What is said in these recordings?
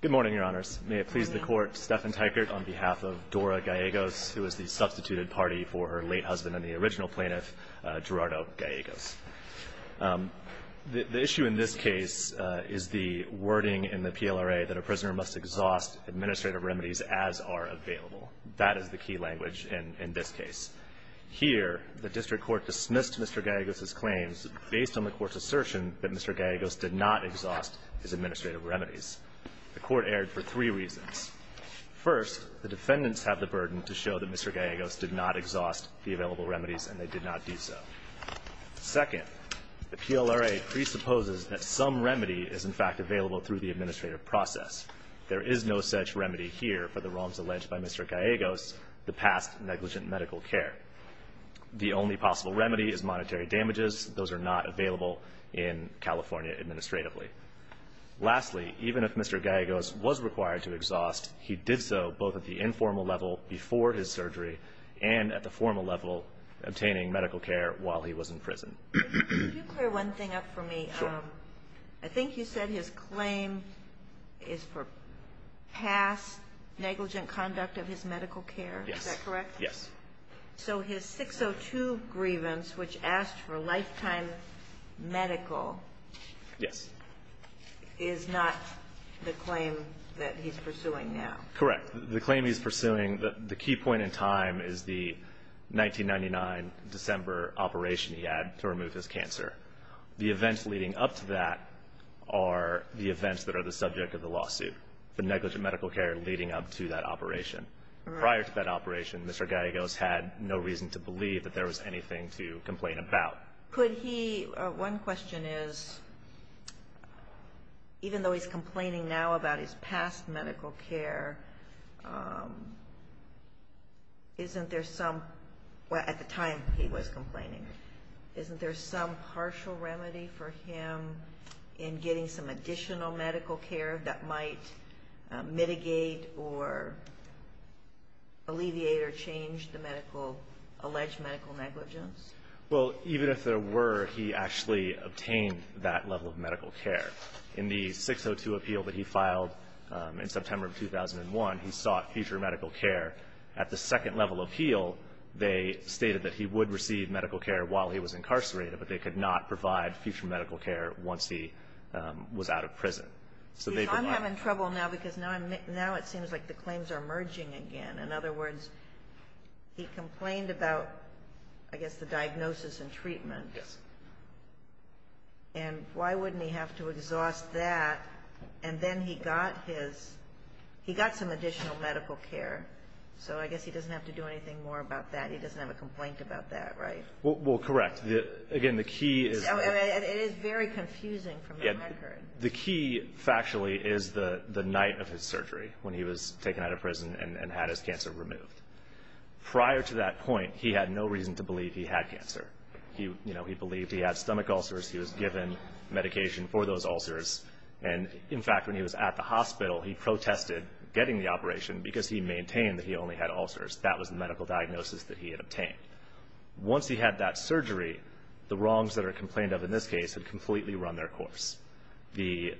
Good morning, Your Honors. May it please the Court, Stephen Teichert on behalf of Dora Gallegos, who is the substituted party for her late husband and the original plaintiff, Gerardo Gallegos. The issue in this case is the wording in the PLRA that a prisoner must exhaust administrative remedies as are available. That is the key language in this case. Here, the District Court dismissed Mr. Gallegos' claims based on the Court's assertion that Mr. Gallegos did not exhaust his administrative remedies. The Court erred for three reasons. First, the defendants have the burden to show that Mr. Gallegos did not exhaust the available remedies and they did not do so. Second, the PLRA presupposes that some remedy is in fact available through the administrative process. There is no such remedy here for the wrongs alleged by Mr. Gallegos, the past negligent medical care. The only possible remedy is monetary damages. Those are not available in California administratively. Lastly, even if Mr. Gallegos was required to exhaust, he did so both at the informal level before his surgery and at the formal level obtaining medical care while he was in prison. Can you clear one thing up for me? Sure. I think you said his claim is for past negligent conduct of his medical care. Yes. Is that correct? Yes. So his 602 grievance, which asked for lifetime medical. Yes. Is not the claim that he's pursuing now. Correct. The claim he's pursuing, the key point in time is the 1999 December operation he had to remove his cancer. The events leading up to that are the events that are the subject of the lawsuit, the negligent medical care leading up to that operation. Prior to that operation, Mr. Gallegos had no reason to believe that there was anything to complain about. One question is, even though he's complaining now about his past medical care, isn't there some, at the time he was complaining, isn't there some partial remedy for him in getting some additional medical care that might mitigate or alleviate or change the alleged medical negligence? Well, even if there were, he actually obtained that level of medical care. In the 602 appeal that he filed in September of 2001, he sought future medical care. At the second level appeal, they stated that he would receive medical care while he was incarcerated, but they could not provide future medical care once he was out of prison. So they provided that. I'm having trouble now because now it seems like the claims are merging again. In other words, he complained about, I guess, the diagnosis and treatment. Yes. And why wouldn't he have to exhaust that? And then he got his, he got some additional medical care, so I guess he doesn't have to do anything more about that. He doesn't have a complaint about that, right? Well, correct. Again, the key is. It is very confusing from the record. The key factually is the night of his surgery when he was taken out of prison and had his cancer removed. Prior to that point, he had no reason to believe he had cancer. You know, he believed he had stomach ulcers. He was given medication for those ulcers. And, in fact, when he was at the hospital, he protested getting the operation because he maintained that he only had ulcers. That was the medical diagnosis that he had obtained. Once he had that surgery, the wrongs that are complained of in this case had completely run their course. He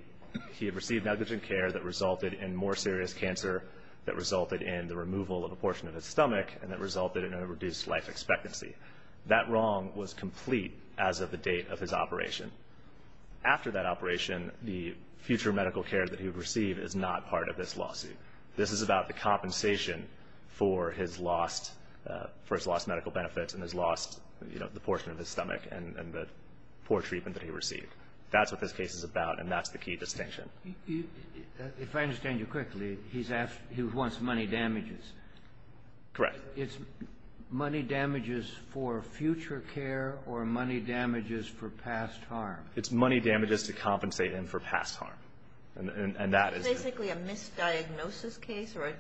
had received negligent care that resulted in more serious cancer, that resulted in the removal of a portion of his stomach, and that resulted in a reduced life expectancy. That wrong was complete as of the date of his operation. After that operation, the future medical care that he would receive is not part of this lawsuit. This is about the compensation for his lost medical benefits and his lost, you know, the portion of his stomach and the poor treatment that he received. That's what this case is about, and that's the key distinction. If I understand you quickly, he wants money damages. Correct. It's money damages for future care or money damages for past harm. It's money damages to compensate him for past harm. Is it basically a misdiagnosis case or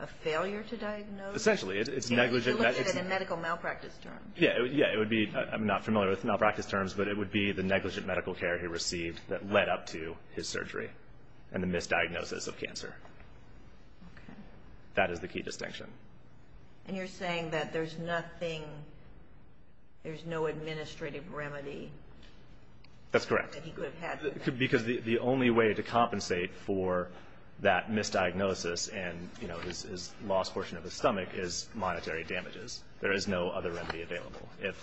a failure to diagnose? Essentially, it's negligent. You're looking at a medical malpractice term. Yeah, it would be. I'm not familiar with malpractice terms, but it would be the negligent medical care he received that led up to his surgery and the misdiagnosis of cancer. That is the key distinction. And you're saying that there's nothing, there's no administrative remedy? That's correct. Because the only way to compensate for that misdiagnosis and, you know, his lost portion of his stomach is monetary damages. There is no other remedy available. If,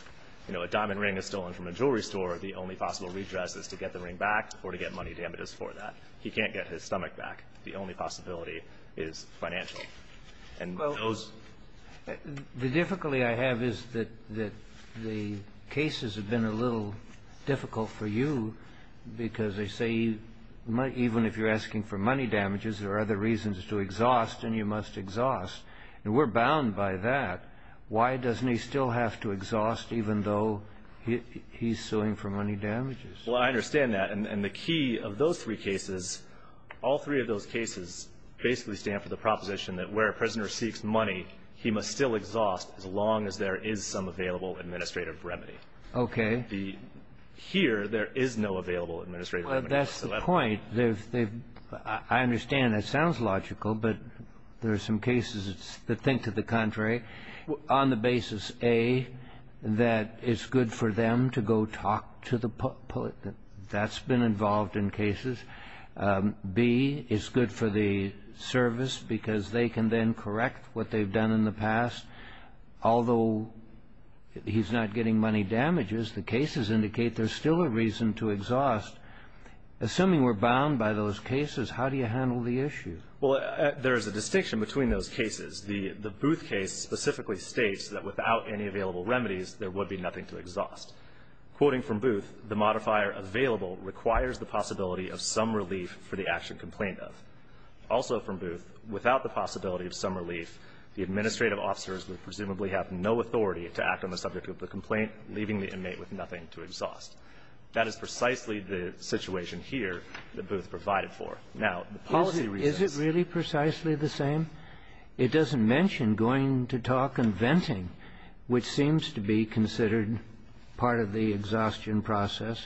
you know, a diamond ring is stolen from a jewelry store, the only possible redress is to get the ring back or to get money damages for that. He can't get his stomach back. The only possibility is financial. Well, the difficulty I have is that the cases have been a little difficult for you, because they say even if you're asking for money damages, there are other reasons to exhaust, and you must exhaust. And we're bound by that. Why doesn't he still have to exhaust even though he's suing for money damages? Well, I understand that. And the key of those three cases, all three of those cases basically stand for the proposition that where a prisoner seeks money, he must still exhaust as long as there is some available administrative remedy. Okay. Here, there is no available administrative remedy. Well, that's the point. I understand that sounds logical, but there are some cases that think to the contrary, on the basis, A, that it's good for them to go talk to the public. That's been involved in cases. B, it's good for the service because they can then correct what they've done in the past. Although he's not getting money damages, the cases indicate there's still a reason to exhaust. Assuming we're bound by those cases, how do you handle the issue? Well, there is a distinction between those cases. The Booth case specifically states that without any available remedies, there would be nothing to exhaust. Quoting from Booth, the modifier, available, requires the possibility of some relief for the action complained of. Also from Booth, without the possibility of some relief, the administrative officers would presumably have no authority to act on the subject of the complaint, leaving the inmate with nothing to exhaust. That is precisely the situation here that Booth provided for. Now, the policy reasons Is it really precisely the same? It doesn't mention going to talk and venting, which seems to be considered part of the exhaustion process,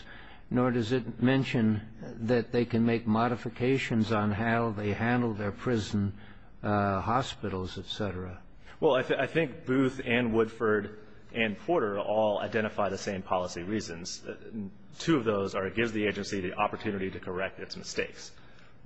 nor does it mention that they can make modifications on how they handle their prison, hospitals, et cetera. Well, I think Booth and Woodford and Porter all identify the same policy reasons. Two of those are it gives the agency the opportunity to correct its mistakes.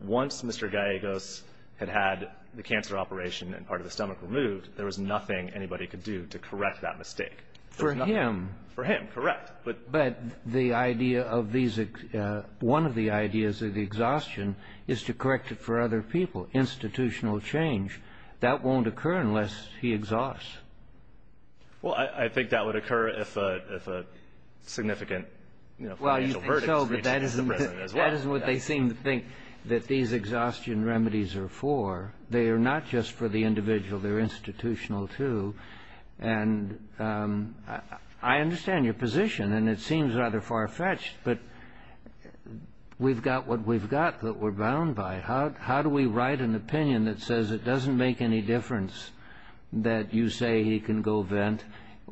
Once Mr. Gallegos had had the cancer operation and part of the stomach removed, there was nothing anybody could do to correct that mistake. For him. For him, correct. But the idea of these one of the ideas of the exhaustion is to correct it for other people. Institutional change, that won't occur unless he exhausts. Well, I think that would occur if a significant, you know, financial verdict is reached in the prison as well. That isn't what they seem to think that these exhaustion remedies are for. They are not just for the individual. They're institutional, too. And I understand your position, and it seems rather far-fetched, but we've got what we've got that we're bound by. How do we write an opinion that says it doesn't make any difference that you say he can go vent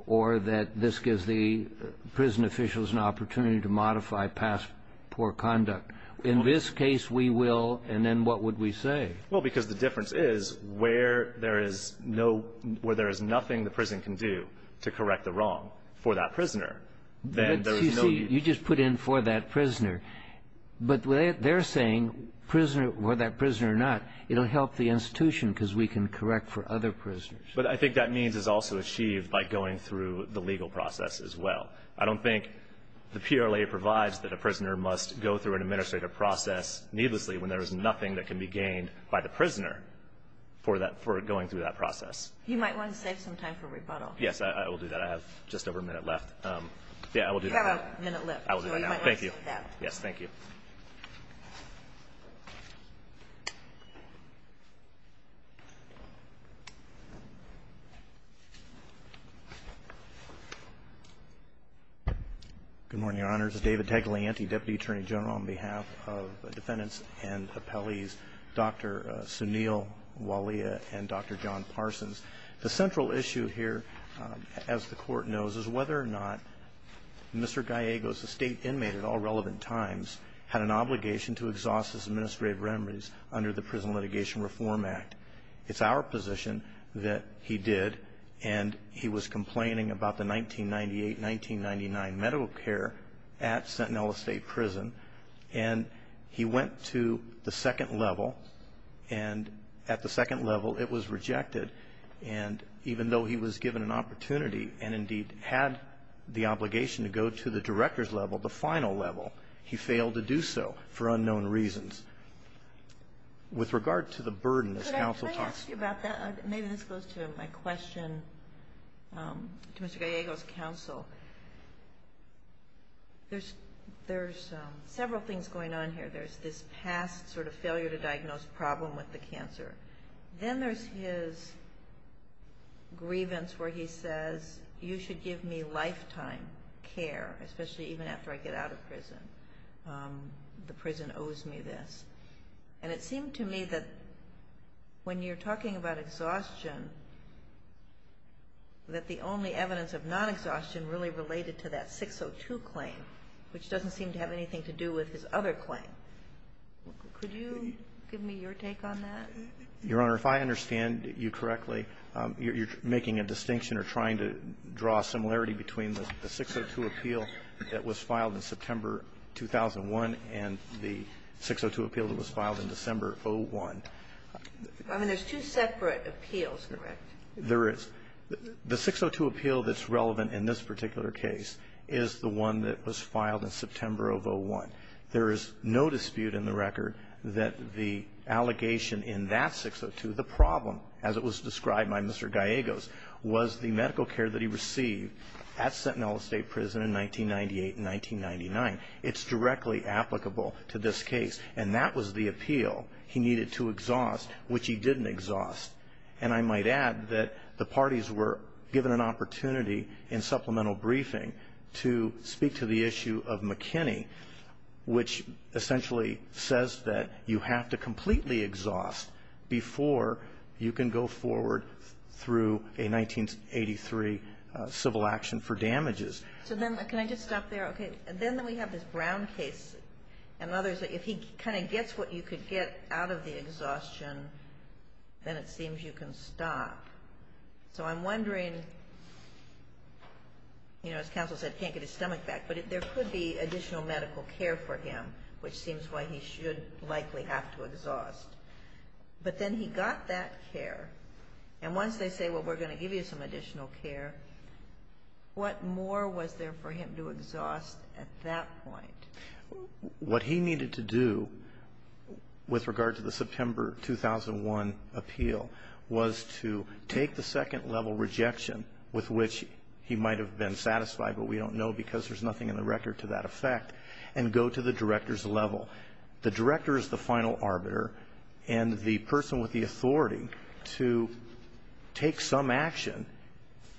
or that this gives the prison officials an opportunity to modify past poor conduct? In this case, we will, and then what would we say? Well, because the difference is where there is no, where there is nothing the prison can do to correct the wrong for that prisoner, then there is no. You see, you just put in for that prisoner. But they're saying, for that prisoner or not, it will help the institution because we can correct for other prisoners. But I think that means is also achieved by going through the legal process as well. I don't think the PLA provides that a prisoner must go through an administrative process needlessly when there is nothing that can be gained by the prisoner for that, for going through that process. You might want to save some time for rebuttal. Yes, I will do that. I have just over a minute left. Yeah, I will do that now. You have a minute left. I will do that now. Thank you. You might want to save that. Yes, thank you. Good morning, Your Honors. David Taglianti, Deputy Attorney General on behalf of defendants and appellees, Dr. Sunil Walia and Dr. John Parsons. The central issue here, as the Court knows, is whether or not Mr. Gallegos, a state inmate at all relevant times, had an obligation to exhaust his administrative remedies under the Prison Litigation Reform Act. It's our position that he did, and he was complaining about the 1998-1999 medical care at Sentinella State Prison, and he went to the second level, and at the second level it was rejected. And even though he was given an opportunity and, indeed, had the obligation to go to the director's level, the final level, he failed to do so for unknown reasons. With regard to the burden that counsel talks about. Could I ask you about that? Maybe this goes to my question to Mr. Gallegos' counsel. There's several things going on here. There's this past sort of failure-to-diagnose problem with the cancer. Then there's his grievance where he says, you should give me lifetime care, especially even after I get out of prison. The prison owes me this. And it seemed to me that when you're talking about exhaustion, that the only evidence of non-exhaustion really related to that 602 claim, which doesn't seem to have anything to do with his other claim. Could you give me your take on that? Your Honor, if I understand you correctly, you're making a distinction or trying to draw a similarity between the 602 appeal that was filed in September 2001 and the 602 appeal that was filed in December 01. I mean, there's two separate appeals, correct? There is. The 602 appeal that's relevant in this particular case is the one that was filed in September of 01. There is no dispute in the record that the allegation in that 602, the problem, as it was described by Mr. Gallegos, was the medical care that he received at Sentinel Estate Prison in 1998 and 1999. It's directly applicable to this case. And that was the appeal he needed to exhaust, which he didn't exhaust. And I might add that the parties were given an opportunity in supplemental briefing to speak to the issue of McKinney, which essentially says that you have to completely exhaust before you can go forward through a 1983 civil action for damages. So then can I just stop there? Okay. Then we have this Brown case and others. If he kind of gets what you could get out of the exhaustion, then it seems you can stop. So I'm wondering, you know, as counsel said, can't get his stomach back, but there could be additional medical care for him, which seems why he should likely have to exhaust. But then he got that care, and once they say, well, we're going to give you some additional care, what more was there for him to exhaust at that point? What he needed to do with regard to the September 2001 appeal was to take the second level rejection, with which he might have been satisfied, but we don't know because there's nothing in the record to that effect, and go to the director's level. The director is the final arbiter, and the person with the authority to take some action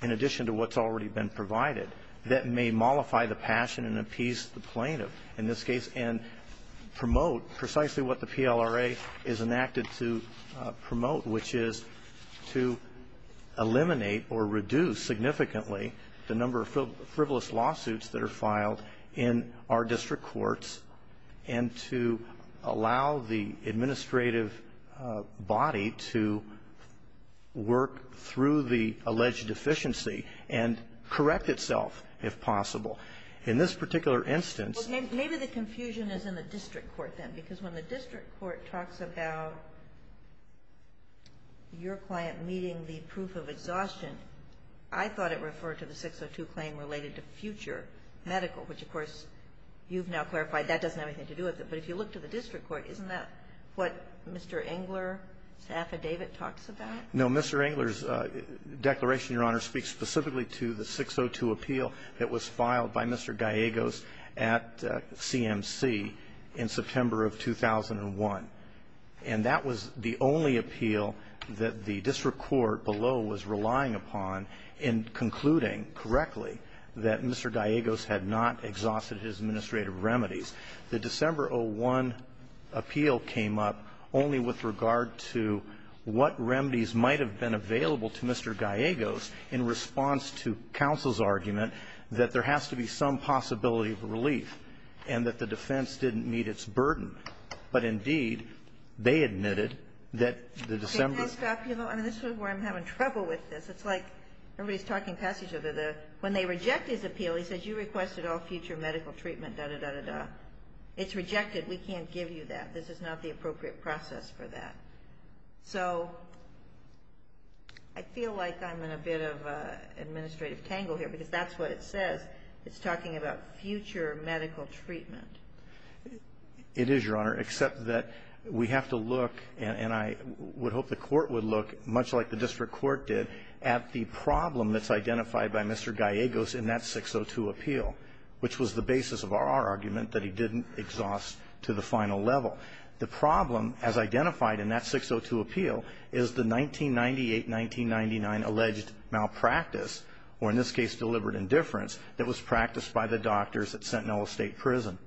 in addition to what's already been provided that may mollify the passion and appease the plaintiff in this case and promote precisely what the PLRA is enacted to promote, which is to eliminate or reduce significantly the number of frivolous lawsuits that are filed in our district courts and to allow the administrative body to work through the alleged deficiency and correct itself if possible. In this particular instance ---- Kagan. Well, maybe the confusion is in the district court, then, because when the district court talks about your client meeting the proof of exhaustion, I thought it referred to the 602 claim related to future medical, which, of course, you've now clarified that doesn't have anything to do with it. But if you look to the district court, isn't that what Mr. Engler's affidavit talks about? Mr. Engler's declaration, Your Honor, speaks specifically to the 602 appeal that was filed by Mr. Gallegos at CMC in September of 2001. And that was the only appeal that the district court below was relying upon in concluding correctly that Mr. Gallegos had not exhausted his administrative remedies. The December of 2001 appeal came up only with regard to what remedies might have been available to Mr. Gallegos in response to counsel's argument that there has to be some possibility of relief and that the defense didn't meet its burden. But, indeed, they admitted that the December. Can I stop you, though? I mean, this is where I'm having trouble with this. It's like everybody's talking past each other. When they reject his appeal, he says, You requested all future medical treatment, dah, dah, dah, dah, dah. It's rejected. We can't give you that. This is not the appropriate process for that. So I feel like I'm in a bit of an administrative tangle here, because that's what it says. It's talking about future medical treatment. It is, Your Honor, except that we have to look, and I would hope the court would look, much like the district court did, at the problem that's identified by Mr. Gallegos in that 602 appeal, which was the basis of our argument that he didn't exhaust to the final level. The problem, as identified in that 602 appeal, is the 1998-1999 alleged malpractice, or in this case deliberate indifference, that was practiced by the doctors at Sentinel State Prison.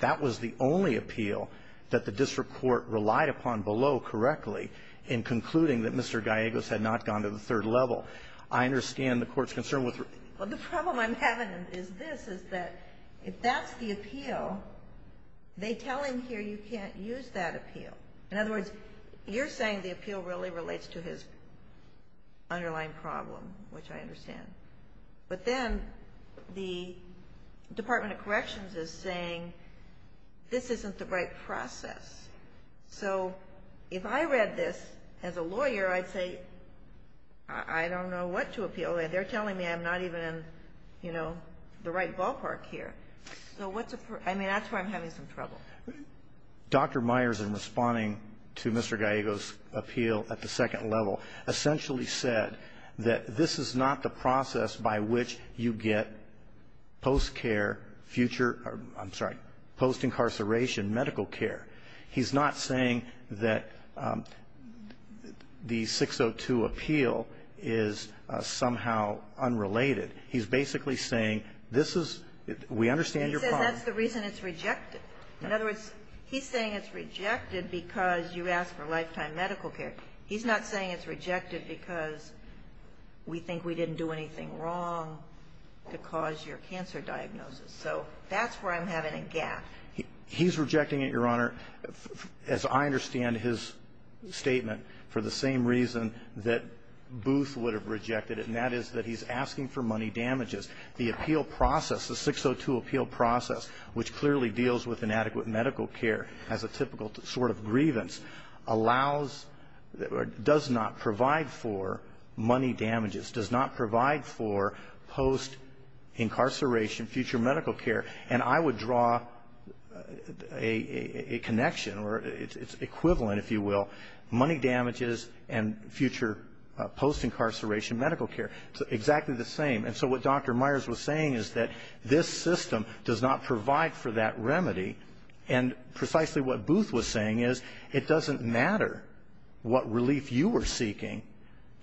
That was the only appeal that the district court relied upon below correctly in concluding that Mr. Gallegos had not gone to the third level. I understand the court's concern with the ---- Well, the problem I'm having is this, is that if that's the appeal, they tell him here you can't use that appeal. In other words, you're saying the appeal really relates to his underlying problem, which I understand. But then the Department of Corrections is saying this isn't the right process. So if I read this as a lawyer, I'd say I don't know what to appeal. They're telling me I'm not even in, you know, the right ballpark here. So what's the ---- I mean, that's where I'm having some trouble. Dr. Myers, in responding to Mr. Gallegos' appeal at the second level, essentially said that this is not the process by which you get post-care future ---- I'm sorry, post-incarceration medical care. He's not saying that the 602 appeal is somehow unrelated. He's basically saying this is ---- we understand your problem. He says that's the reason it's rejected. In other words, he's saying it's rejected because you asked for lifetime medical care. He's not saying it's rejected because we think we didn't do anything wrong to cause your cancer diagnosis. So that's where I'm having a gap. He's rejecting it, Your Honor, as I understand his statement, for the same reason that Booth would have rejected it, and that is that he's asking for money damages. The appeal process, the 602 appeal process, which clearly deals with inadequate medical care as a typical sort of grievance, allows or does not provide for money damages, does not provide for post-incarceration future medical care. And I would draw a connection, or it's equivalent, if you will, money damages and future post-incarceration medical care. It's exactly the same. And so what Dr. Myers was saying is that this system does not provide for that remedy, and precisely what Booth was saying is it doesn't matter what relief you were seeking.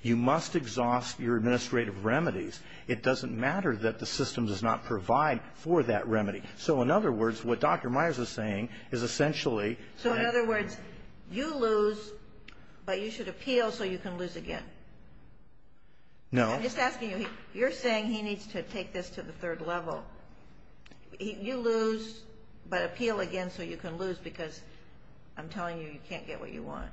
You must exhaust your administrative remedies. It doesn't matter that the system does not provide for that remedy. So in other words, what Dr. Myers was saying is essentially ---- So in other words, you lose, but you should appeal so you can lose again. No. I'm just asking you, you're saying he needs to take this to the third level. You lose, but appeal again so you can lose, because I'm telling you, you can't get what you want.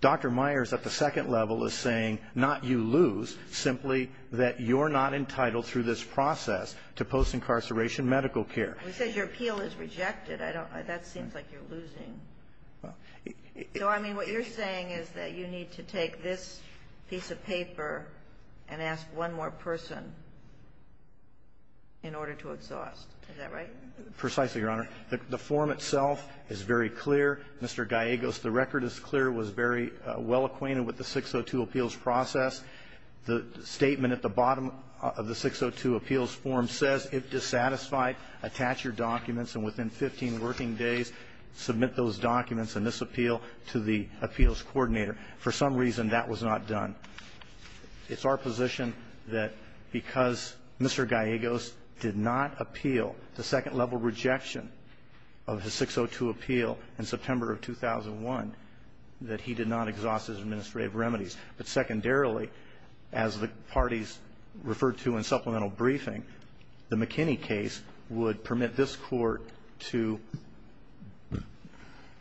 Dr. Myers at the second level is saying not you lose, simply that you're not entitled through this process to post-incarceration medical care. He says your appeal is rejected. I don't know. That seems like you're losing. So I mean, what you're saying is that you need to take this piece of paper and ask one more person in order to exhaust. Is that right? Precisely, Your Honor. The form itself is very clear. Mr. Gallegos, the record is clear. It was very well acquainted with the 602 appeals process. The statement at the bottom of the 602 appeals form says, if dissatisfied, attach your documents, and within 15 working days, submit those documents in this appeal to the appeals coordinator. For some reason, that was not done. It's our position that because Mr. Gallegos did not appeal the second-level rejection of his 602 appeal in September of 2001, that he did not exhaust his administrative remedies. But secondarily, as the parties referred to in supplemental briefing, the McKinney case would permit this Court to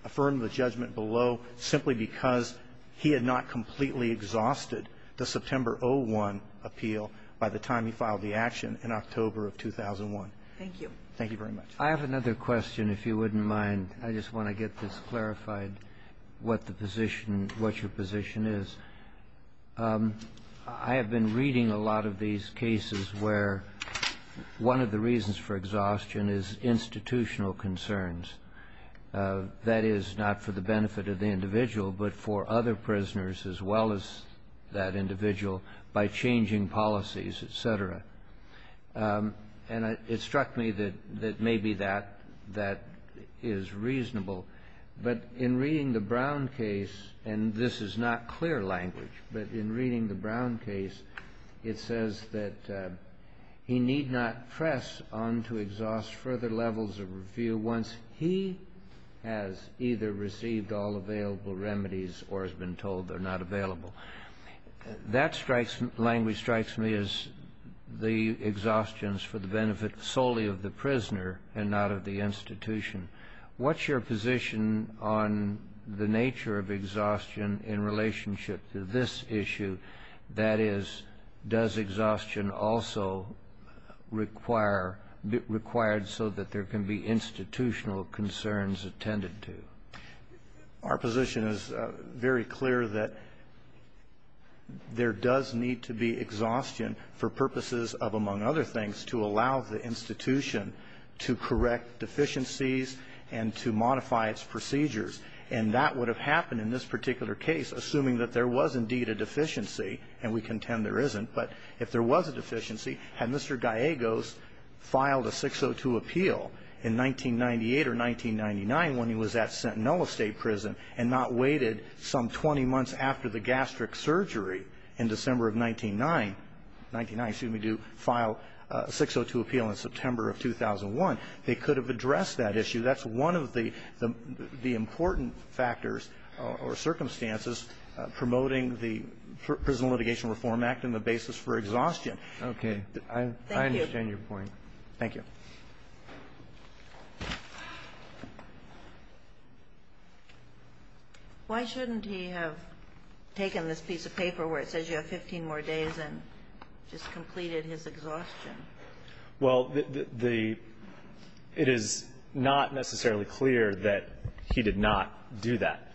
affirm the judgment below simply because he had not completely exhausted the September 01 appeal by the time he filed the action in October of 2001. Thank you. Thank you very much. I have another question, if you wouldn't mind. I just want to get this clarified, what the position, what your position is. I have been reading a lot of these cases where one of the reasons for exhaustion is institutional concerns. That is, not for the benefit of the individual, but for other prisoners as well as that individual, by changing policies, et cetera. And it struck me that maybe that is reasonable. But in reading the Brown case, and this is not clear language, but in reading the Brown case, it says that he need not press on to exhaust further levels of review once he has either received all available remedies or has been told they're not available. That language strikes me as the exhaustions for the benefit solely of the prisoner and not of the institution. What's your position on the nature of exhaustion in relationship to this issue? That is, does exhaustion also require, required so that there can be institutional concerns attended to? Our position is very clear that there does need to be exhaustion for purposes of, among other things, to allow the institution to correct deficiencies and to modify its procedures. And that would have happened in this particular case, assuming that there was indeed a deficiency, and we contend there isn't. But if there was a deficiency, had Mr. Gallegos filed a 602 appeal in 1998 or 1999 when he was at Sentinela State Prison and not waited some 20 months after the gastric surgery in December of 1999 to file a 602 appeal in September of 2001, they could have addressed that issue. That's one of the important factors or circumstances promoting the Prison Litigation Reform Act and the basis for exhaustion. Okay. Thank you. I understand your point. Thank you. Why shouldn't he have taken this piece of paper where it says you have 15 more days and just completed his exhaustion? Well, the, it is not necessarily clear that he did not do that.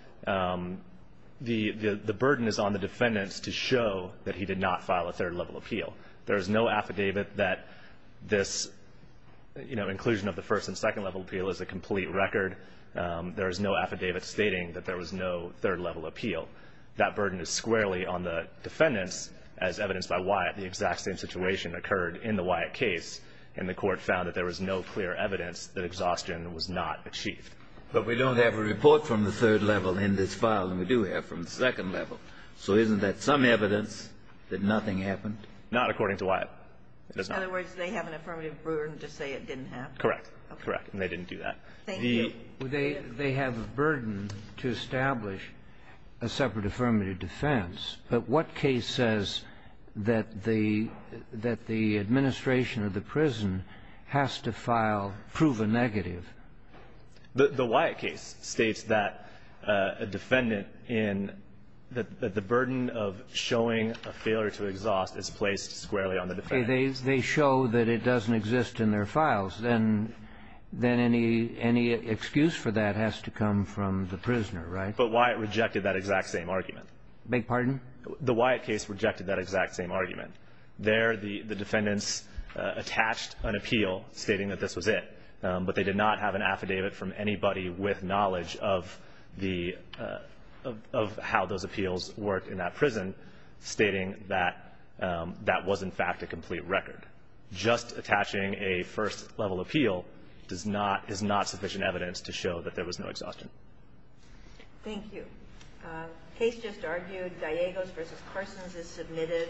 The burden is on the defendants to show that he did not file a third-level appeal. There is no affidavit that this, you know, inclusion of the first and second-level appeal is a complete record. There is no affidavit stating that there was no third-level appeal. That burden is squarely on the defendants, as evidenced by Wyatt. The exact same situation occurred in the Wyatt case, and the Court found that there was no clear evidence that exhaustion was not achieved. But we don't have a report from the third level in this file than we do have from the second level. So isn't that some evidence that nothing happened? Not according to Wyatt. It is not. In other words, they have an affirmative burden to say it didn't happen? Correct. Correct. And they didn't do that. Thank you. They have a burden to establish a separate affirmative defense. But what case says that the, that the administration of the prison has to file proven negative? The Wyatt case states that a defendant in, that the burden of showing a failure to exhaust is placed squarely on the defendants. They show that it doesn't exist in their files. Then any excuse for that has to come from the prisoner, right? But Wyatt rejected that exact same argument. Beg pardon? The Wyatt case rejected that exact same argument. There, the defendants attached an appeal stating that this was it. But they did not have an affidavit from anybody with knowledge of the, of how those things work. And that, that was, in fact, a complete record. Just attaching a first-level appeal does not, is not sufficient evidence to show that there was no exhaustion. Thank you. Case just argued. Gallegos v. Parsons is submitted.